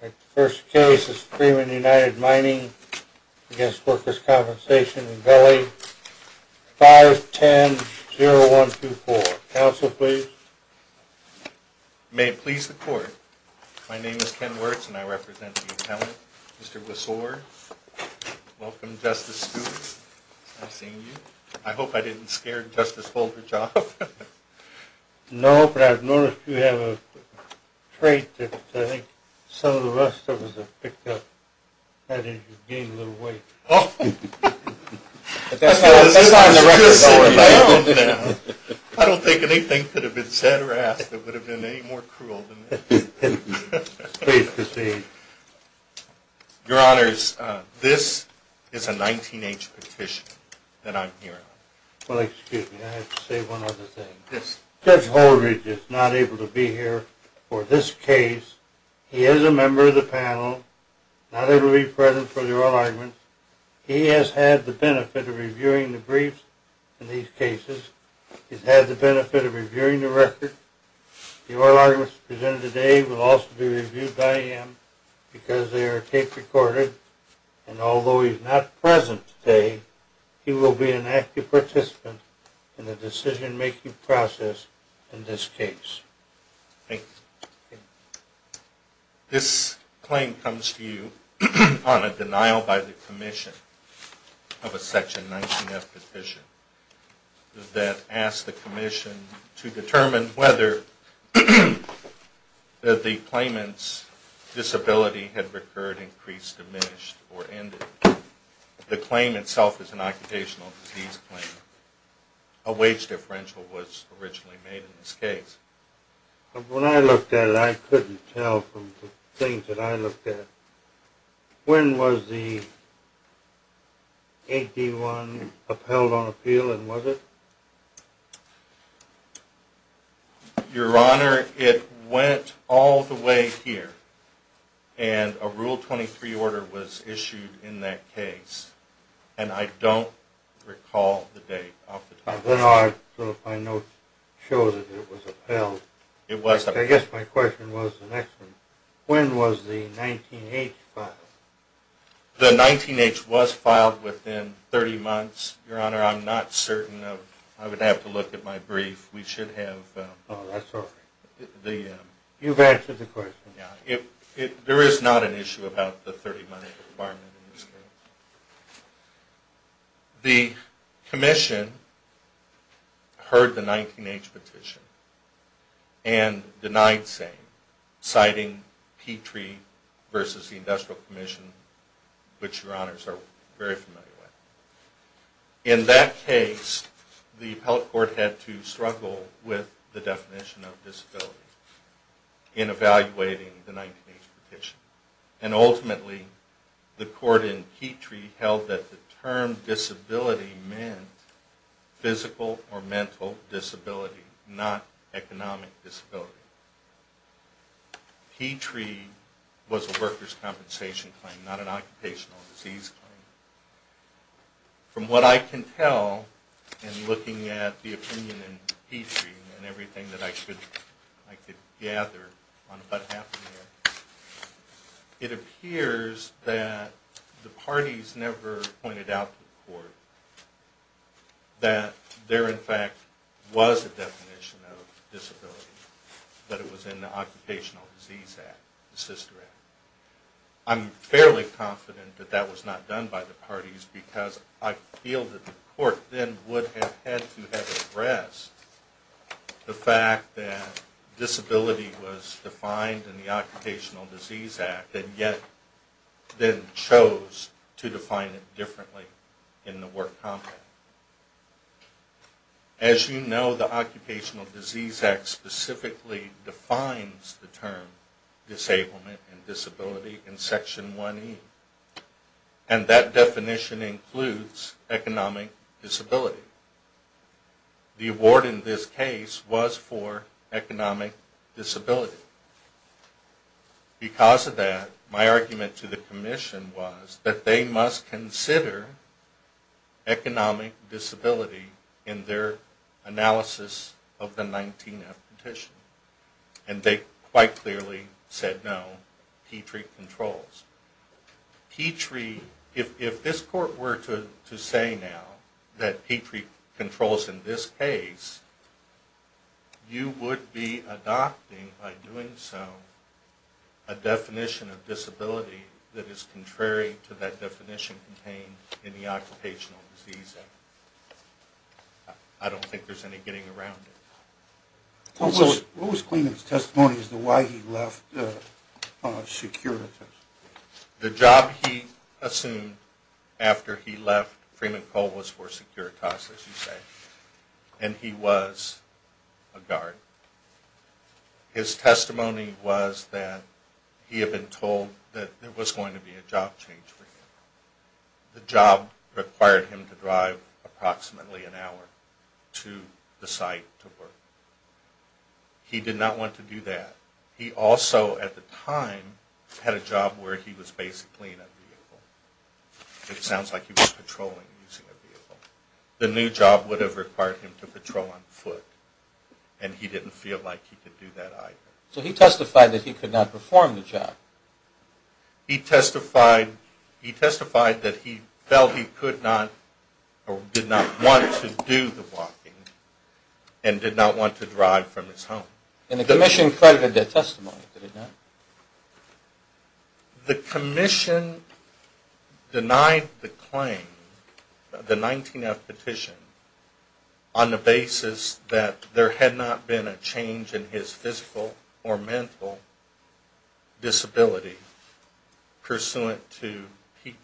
The first case is Freeman United Mining v. Workers' Compensation in Valley 510-0124. Counsel, please. May it please the court, my name is Ken Wirtz and I represent the appellant, Mr. Wessore. Welcome, Justice Scoop. I've seen you. I hope I didn't scare Justice Holderjob. No, but I've noticed you have a trait that I think some of the rest of us have picked up. That is, you've gained a little weight. But that's not in the record. I don't think anything could have been said or asked that would have been any more cruel than that. Please proceed. Your Honors, this is a 19-H petition that I'm here on. Well, excuse me, I have to say one other thing. Judge Holdridge is not able to be here for this case. He is a member of the panel, not able to be present for the oral arguments. He has had the benefit of reviewing the briefs in these cases. He's had the benefit of reviewing the record. The oral arguments presented today will also be reviewed by him because they are tape-recorded. And although he's not present today, he will be an active participant in the decision-making process in this case. Thank you. This claim comes to you on a denial by the Commission of a Section 19-F petition that asks the Commission to determine whether the claimant's disability had recurred, increased, diminished, or ended. The claim itself is an occupational disease claim. A wage differential was originally made in this case. When I looked at it, I couldn't tell from the things that I looked at. When was the 8-D-1 upheld on appeal and was it? Your Honor, it went all the way here. And a Rule 23 order was issued in that case. And I don't recall the date off the top of my head. My notes show that it was upheld. I guess my question was the next one. When was the 19-H filed? The 19-H was filed within 30 months. Your Honor, I'm not certain. I would have to look at my brief. Oh, that's all right. You've answered the question. There is not an issue about the 30-month requirement in this case. The Commission heard the 19-H petition and denied saying, citing Petrie versus the Industrial Commission, which Your Honors are very familiar with. In that case, the Appellate Court had to struggle with the definition of disability in evaluating the 19-H petition. And ultimately, the Court in Petrie held that the term disability meant physical or mental disability, not economic disability. Petrie was a workers' compensation claim, not an occupational disease claim. From what I can tell, and looking at the opinion in Petrie and everything that I could gather on what happened there, it appears that the parties never pointed out to the Court that there, in fact, was a definition of disability, that it was in the Occupational Disease Act, the Sister Act. I'm fairly confident that that was not done by the parties, because I feel that the Court then would have had to have addressed the fact that disability was defined in the Occupational Disease Act, and yet then chose to define it differently in the work content. As you know, the Occupational Disease Act specifically defines the term disablement and disability in Section 1E. And that definition includes economic disability. The award in this case was for economic disability. Because of that, my argument to the Commission was that they must consider economic disability in their analysis of the 19-H petition. And they quite clearly said no, Petrie controls. If this Court were to say now that Petrie controls in this case, you would be adopting, by doing so, a definition of disability that is contrary to that definition contained in the Occupational Disease Act. I don't think there's any getting around it. What was Clement's testimony as to why he left security? The job he assumed after he left Freeman Cole was for Securitas, as you say. And he was a guard. His testimony was that he had been told that there was going to be a job change for him. The job required him to drive approximately an hour to the site to work. He did not want to do that. He also, at the time, had a job where he was basically in a vehicle. It sounds like he was patrolling using a vehicle. The new job would have required him to patrol on foot, and he didn't feel like he could do that either. So he testified that he could not perform the job. He testified that he felt he could not, or did not want to do the walking, and did not want to drive from his home. And the Commission credited that testimony, did it not? The Commission denied the claim, the 19-F petition, on the basis that there had not been a change in his physical or mental disability pursuant to Petrie.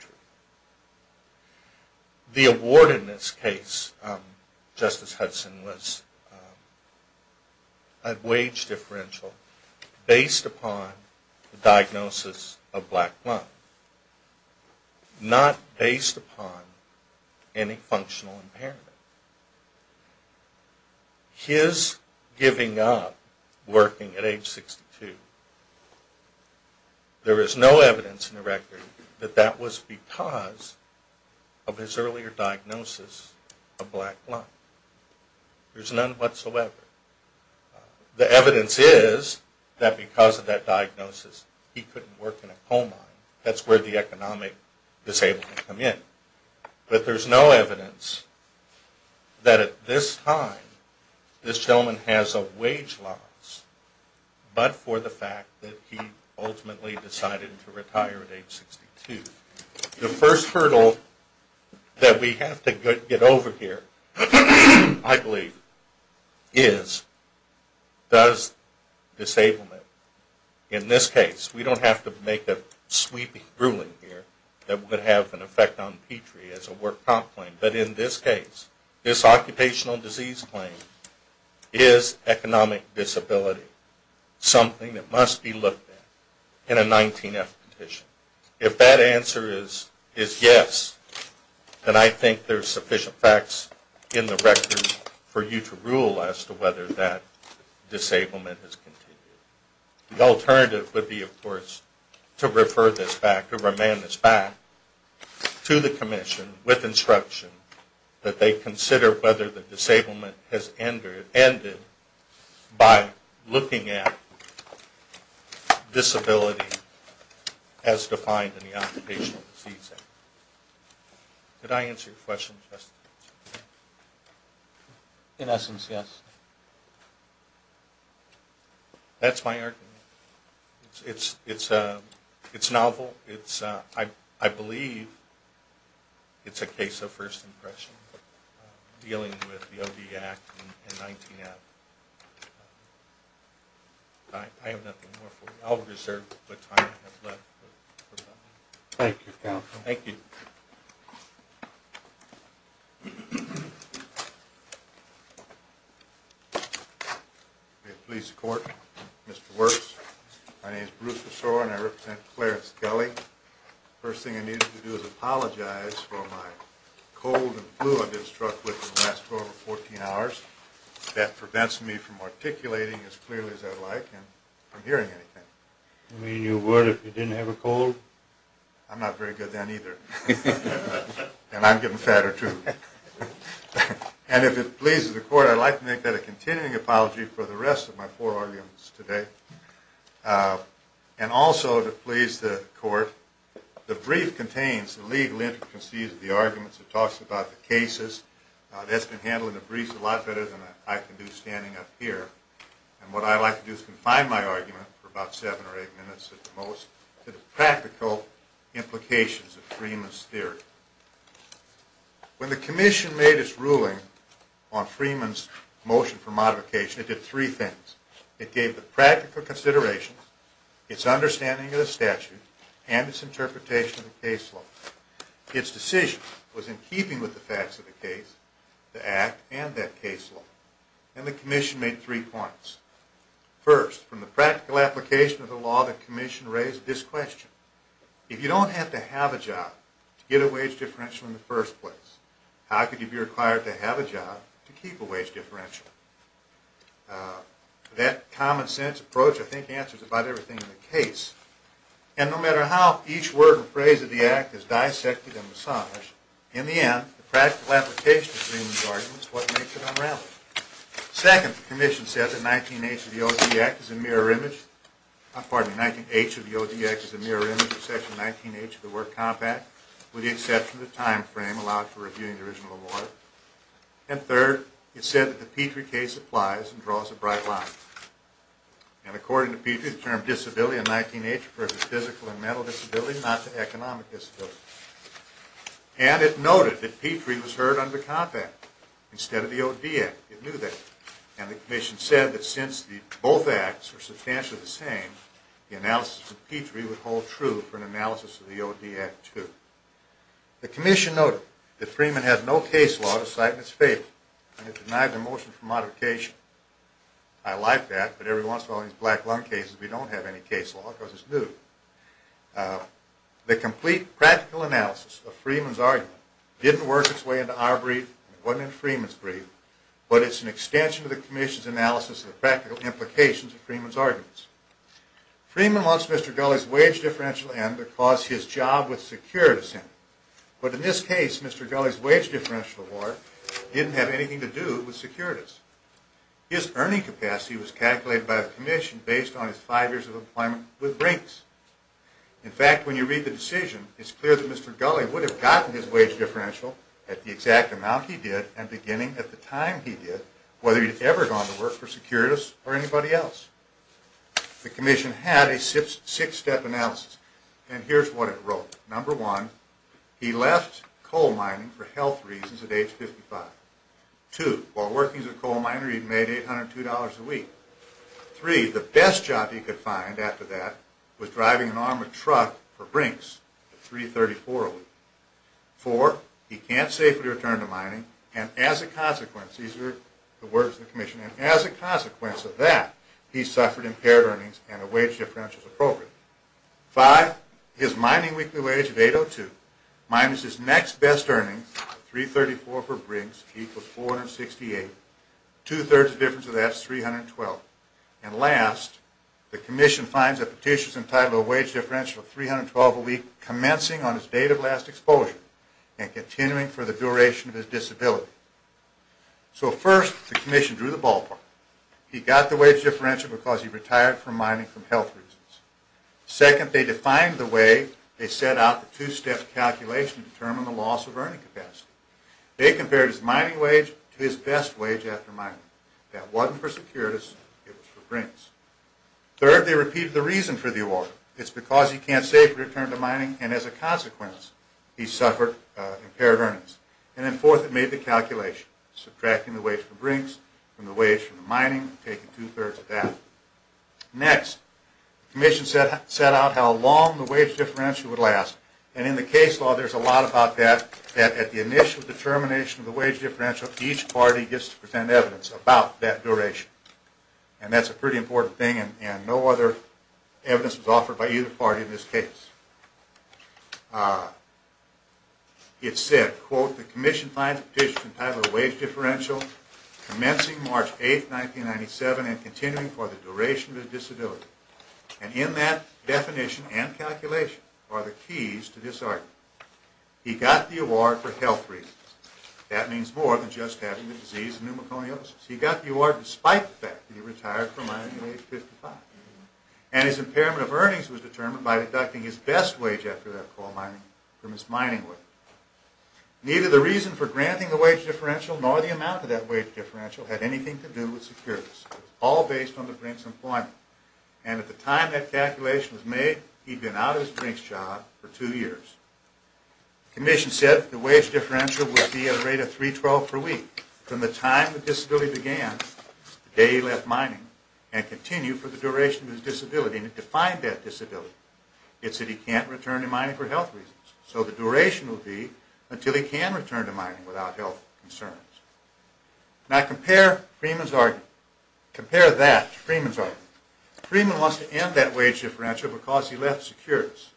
The award in this case, Justice Hudson, was a wage differential based upon the diagnosis of black blood, not based upon any functional impairment. His giving up working at age 62, there is no evidence in the record that that was because of his earlier diagnosis of black blood. There's none whatsoever. The evidence is that because of that diagnosis, he couldn't work in a coal mine. That's where the economic disability came in. But there's no evidence that at this time, this gentleman has a wage loss, but for the fact that he ultimately decided to retire at age 62. The first hurdle that we have to get over here, I believe, is does disablement, in this case, we don't have to make a sweeping ruling here that would have an effect on Petrie as a work comp claim. But in this case, this occupational disease claim is economic disability, something that must be looked at in a 19-F petition. If that answer is yes, then I think there's sufficient facts in the record for you to rule as to whether that disablement has continued. The alternative would be, of course, to refer this back, to remand this back to the commission with instruction that they consider whether the disablement has ended by looking at disability as defined in the occupational disease act. Did I answer your question, Justice? In essence, yes. That's my argument. It's novel. I believe it's a case of first impression, dealing with the OD Act and 19-F. I have nothing more for you. I'll reserve the time I have left. Thank you, counsel. Thank you. If it pleases the court, Mr. Wirtz. My name is Bruce Besore and I represent Clarence Kelly. The first thing I need you to do is apologize for my cold and flu I've been struck with in the last 12 or 14 hours. That prevents me from articulating as clearly as I'd like and from hearing anything. You mean you would if you didn't have a cold? I'm not very good then either. And I'm getting fatter too. And if it pleases the court, I'd like to make that a continuing apology for the rest of my four arguments today. And also, if it pleases the court, the brief contains the legal intricacies of the arguments. It talks about the cases. That's been handled in the briefs a lot better than I can do standing up here. And what I'd like to do is confine my argument for about seven or eight minutes at the most to the practical implications of dreamless theory. When the commission made its ruling on Freeman's motion for modification, it did three things. It gave the practical considerations, its understanding of the statute, and its interpretation of the case law. Its decision was in keeping with the facts of the case, the act, and that case law. And the commission made three points. First, from the practical application of the law, the commission raised this question. If you don't have to have a job to get a wage differential in the first place, how could you be required to have a job to keep a wage differential? That common sense approach, I think, answers about everything in the case. And no matter how each word and phrase of the act is dissected and massaged, in the end, the practical application of Freeman's argument is what makes it unraveling. Second, the commission said that 19H of the OD Act is a mirror image, pardon me, 19H of the OD Act is a mirror image of Section 19H of the Work Compact, with the exception of the time frame allowed for reviewing the original award. And third, it said that the Petrie case applies and draws a bright line. And according to Petrie, the term disability in 19H refers to physical and mental disability, not to economic disability. And it noted that Petrie was heard under Compact instead of the OD Act. And the commission said that since both acts are substantially the same, the analysis of Petrie would hold true for an analysis of the OD Act too. The commission noted that Freeman has no case law to cite in its favor, and it denied the motion for modification. I like that, but every once in a while in these black lung cases, we don't have any case law because it's new. The complete practical analysis of Freeman's argument didn't work its way into our brief, and it wasn't in Freeman's brief, but it's an extension of the commission's analysis of the practical implications of Freeman's arguments. Freeman wants Mr. Gulley's wage differential end to cause his job with securities him. But in this case, Mr. Gulley's wage differential award didn't have anything to do with securities. His earning capacity was calculated by the commission based on his five years of employment with Brinks. In fact, when you read the decision, it's clear that Mr. Gulley would have gotten his wage differential at the exact amount he did and beginning at the time he did, whether he'd ever gone to work for securities or anybody else. The commission had a six-step analysis, and here's what it wrote. Number one, he left coal mining for health reasons at age 55. Two, while working as a coal miner, he made $802 a week. Three, the best job he could find after that was driving an armored truck for Brinks. That's $334 a week. Four, he can't safely return to mining, and as a consequence, these are the words of the commission, and as a consequence of that, he suffered impaired earnings and a wage differential is appropriate. Five, his mining weekly wage of $802 minus his next best earnings, $334 for Brinks, equals $468. Two-thirds of the difference of that is $312. And last, the commission finds that Petitia's entitled to a wage differential of $312 a week, commencing on his date of last exposure and continuing for the duration of his disability. So first, the commission drew the ballpark. He got the wage differential because he retired from mining for health reasons. Second, they defined the way they set out the two-step calculation to determine the loss of earning capacity. They compared his mining wage to his best wage after mining. That wasn't for securities, it was for Brinks. Third, they repeated the reason for the award. It's because he can't safely return to mining, and as a consequence, he suffered impaired earnings. And then fourth, they made the calculation, subtracting the wage for Brinks from the wage for mining, taking two-thirds of that. Next, the commission set out how long the wage differential would last. And in the case law, there's a lot about that, that at the initial determination of the wage differential, each party gets to present evidence about that duration. And that's a pretty important thing, and no other evidence was offered by either party in this case. It said, quote, the commission finds that Petitia's entitled to a wage differential, commencing March 8, 1997, and continuing for the duration of his disability. And in that definition and calculation are the keys to this argument. He got the award for health reasons. That means more than just having the disease of pneumoconiosis. He got the award despite the fact that he retired from mining at age 55. And his impairment of earnings was determined by deducting his best wage after that coal mining from his mining wage. Neither the reason for granting the wage differential, nor the amount of that wage differential, had anything to do with securities. It was all based on the Brinks' employment. And at the time that calculation was made, he'd been out of his Brinks job for two years. The commission said the wage differential would be at a rate of $3.12 per week from the time the disability began, the day he left mining, and continue for the duration of his disability. And it defined that disability. It said he can't return to mining for health reasons. So the duration would be until he can return to mining without health concerns. Now compare Freeman's argument. Compare that to Freeman's argument. Freeman wants to end that wage differential because he left securities.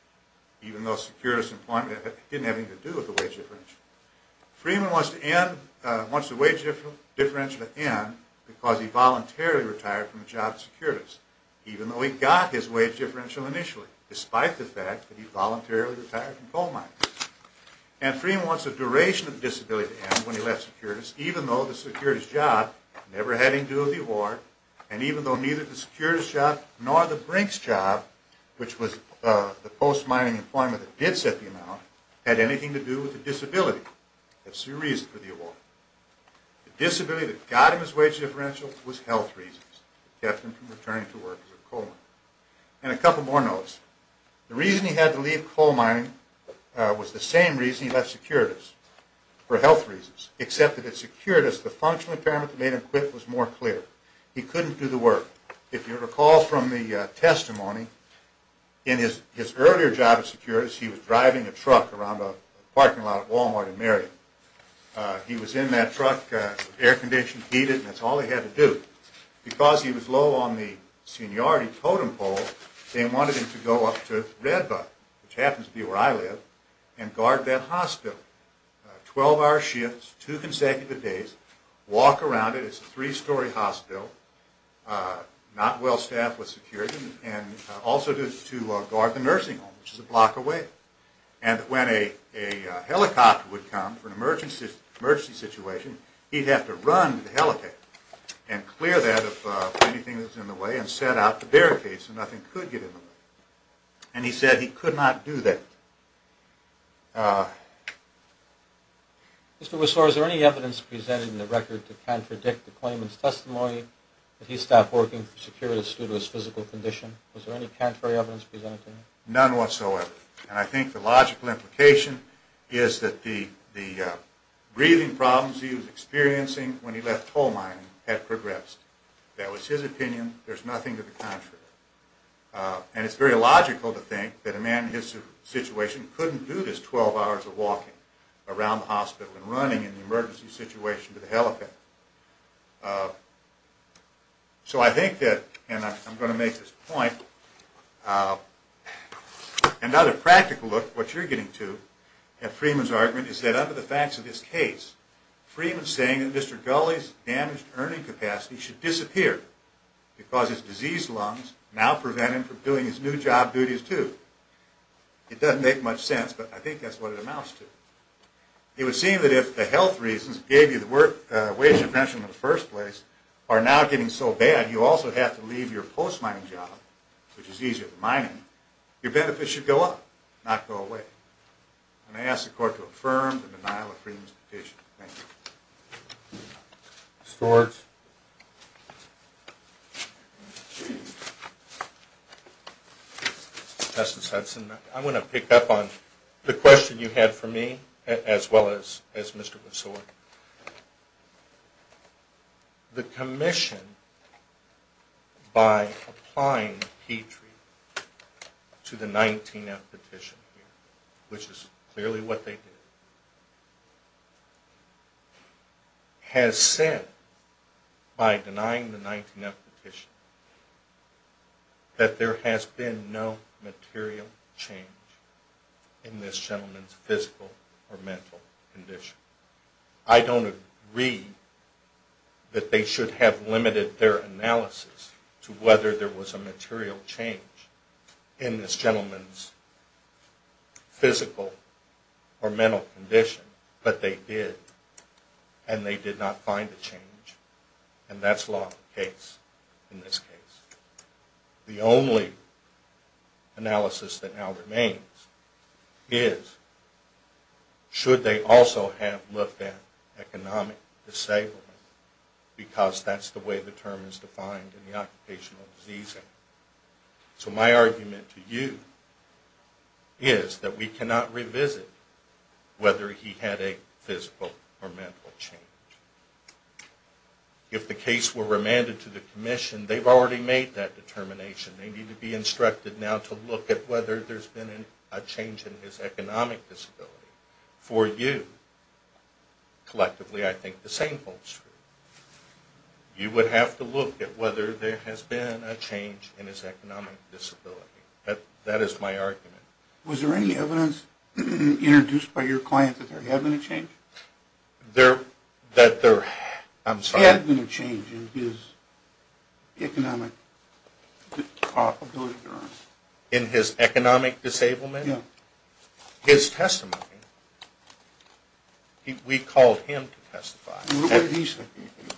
Even though securities employment didn't have anything to do with the wage differential. Freeman wants the wage differential to end because he voluntarily retired from the job of securities. Even though he got his wage differential initially. Despite the fact that he voluntarily retired from coal mining. And Freeman wants the duration of disability to end when he left securities, even though the securities job never had anything to do with the award, and even though neither the securities job nor the Brinks job, which was the post-mining employment that did set the amount, had anything to do with the disability. That's the reason for the award. The disability that got him his wage differential was health reasons. It kept him from returning to work as a coal miner. And a couple more notes. The reason he had to leave coal mining was the same reason he left securities. For health reasons. Except that at securities the functional impairment that made him quit was more clear. He couldn't do the work. If you recall from the testimony, in his earlier job at securities, he was driving a truck around a parking lot at Walmart in Maryland. He was in that truck, air-conditioned, heated, and that's all he had to do. Because he was low on the seniority totem pole, they wanted him to go up to Red Buck, which happens to be where I live, and guard that hospital. Twelve hour shifts, two consecutive days, walk around it. It's a three-story hospital. Not well staffed with securities. And also to guard the nursing home, which is a block away. And when a helicopter would come for an emergency situation, he'd have to run to the helicopter and clear that of anything that was in the way and set out the barricades so nothing could get in the way. And he said he could not do that. Mr. Whistler, is there any evidence presented in the record to contradict the claimant's testimony that he stopped working for securities due to his physical condition? Was there any contrary evidence presented to that? None whatsoever. And I think the logical implication is that the breathing problems he was experiencing when he left coal mining had progressed. That was his opinion. There's nothing to the contrary. And it's very logical to think that a man in his situation couldn't do this twelve hours of walking around the hospital and running in an emergency situation to the helicopter. So I think that, and I'm going to make this point, another practical look at what you're getting to at Freeman's argument is that under the facts of this case, Freeman's saying that Mr. Gulley's damaged earning capacity should disappear because his diseased lungs now prevent him from doing his new job duties too. It doesn't make much sense, but I think that's what it amounts to. It would seem that if the health reasons that gave you the wage intervention in the first place are now getting so bad you also have to leave your post-mining job, which is easier than mining, your benefits should go up, not go away. And I ask the court to affirm the denial of Freeman's petition. Thank you. Mr. Sorge. Justice Hudson, I'm going to pick up on the question you had for me as well as Mr. McSorge. The commission, by applying Petrie to the 19-F petition, which is clearly what they did, has said, by denying the 19-F petition, that there has been no material change in this gentleman's physical or mental condition. I don't agree that they should have limited their analysis to whether there was a material change in this gentleman's physical or mental condition, but they did, and they did not find a change, and that's law of the case in this case. The only analysis that now remains is should they also have looked at economic disablement, because that's the way the term is defined in the Occupational Disease Act. So my argument to you is that we cannot revisit whether he had a physical or mental change. If the case were remanded to the commission, they've already made that determination. They need to be instructed now to look at whether there's been a change in his economic disability. For you, collectively, I think the same holds true. You would have to look at whether there has been a change in his economic disability. That is my argument. Was there any evidence introduced by your client that there had been a change? I'm sorry? There had been a change in his economic disability? In his economic disablement? Yeah. We called him to testify. What did he say?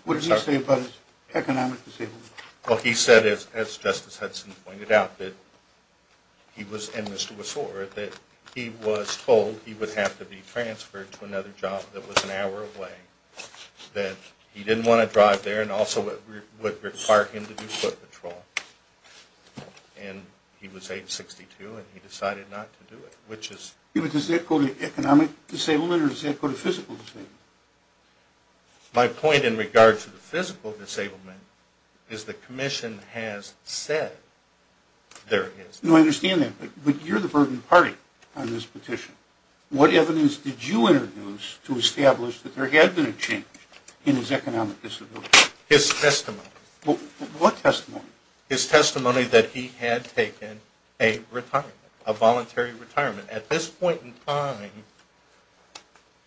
What did he say about his economic disability? Well, he said, as Justice Hudson pointed out, and Mr. Wasore, that he was told he would have to be transferred to another job that was an hour away, that he didn't want to drive there and also it would require him to do foot patrol. And he was age 62 and he decided not to do it. Does that go to economic disablement or does that go to physical disablement? My point in regards to the physical disablement is the Commission has said there is. No, I understand that, but you're the burden party on this petition. What evidence did you introduce to establish that there had been a change in his economic disability? His testimony. What testimony? His testimony that he had taken a retirement, a voluntary retirement. At this point in time,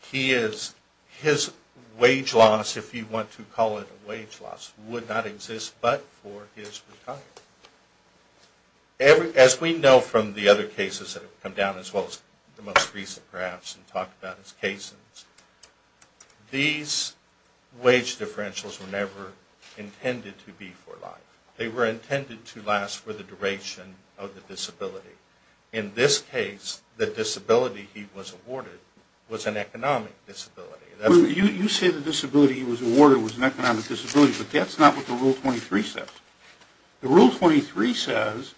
he is, his wage loss, if you want to call it a wage loss, would not exist but for his retirement. As we know from the other cases that have come down as well as the most recent perhaps and talk about his cases, these wage differentials were never intended to be for life. They were never intended to last for the duration of the disability. In this case, the disability he was awarded was an economic disability. You say the disability he was awarded was an economic disability, but that's not what the Rule 23 says. The Rule 23 says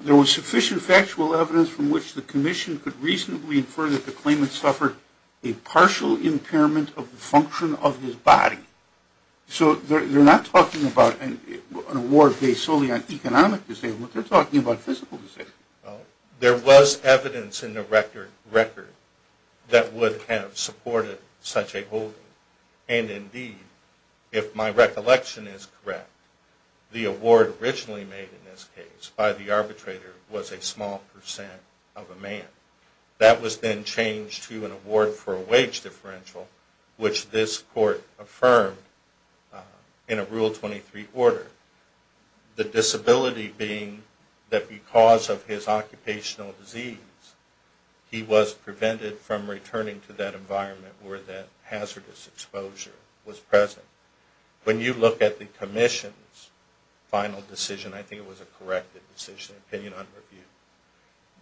there was sufficient factual evidence from which the Commission could reasonably infer that the claimant suffered a partial impairment of the function of his body. You say solely on economic disability, you're talking about physical disability. There was evidence in the record that would have supported such a holding. And indeed, if my recollection is correct, the award originally made in this case by the arbitrator was a small percent of a man. That was then changed to an award for a wage differential which this Court affirmed in a Rule 23 order. The disability being that because of his occupational disease, he was prevented from returning to that environment where that hazardous exposure was present. When you look at the Commission's final decision, I think it was a corrected decision, opinion on review,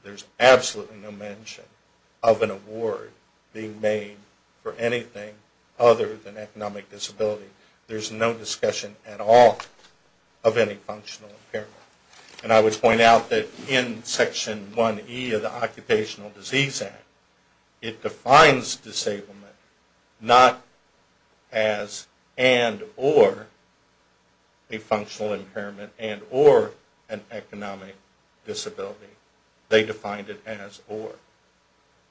there's absolutely no mention of an award being made for anything other than economic disability. Of any functional impairment. And I would point out that in Section 1E of the Occupational Disease Act, it defines disablement not as and or a functional impairment and or an economic disability. They defined it as or.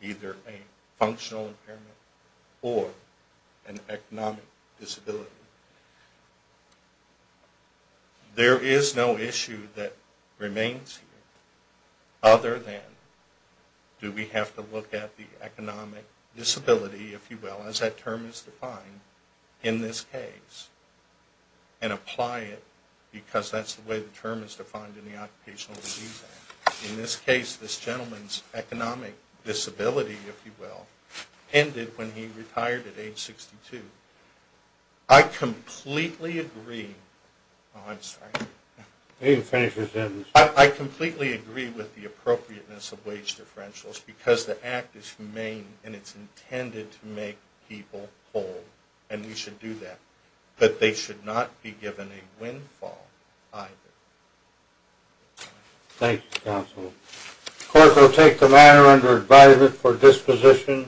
Either a functional impairment or an economic disability. There is no issue that remains here other than do we have to look at the economic disability, if you will, as that term is defined in this case and apply it because that's the way the term is defined in the Occupational Disease Act. In this case, this gentleman's economic disability, if you will, ended when he retired at age 62. I completely agree Oh, I'm sorry. You can finish your sentence. I completely agree with the appropriateness of wage differentials because the act is humane and it's intended to make people whole and we should do that. But they should not be given a windfall either. Thank you, Counsel. The Court will take the matter into advisement for disposition.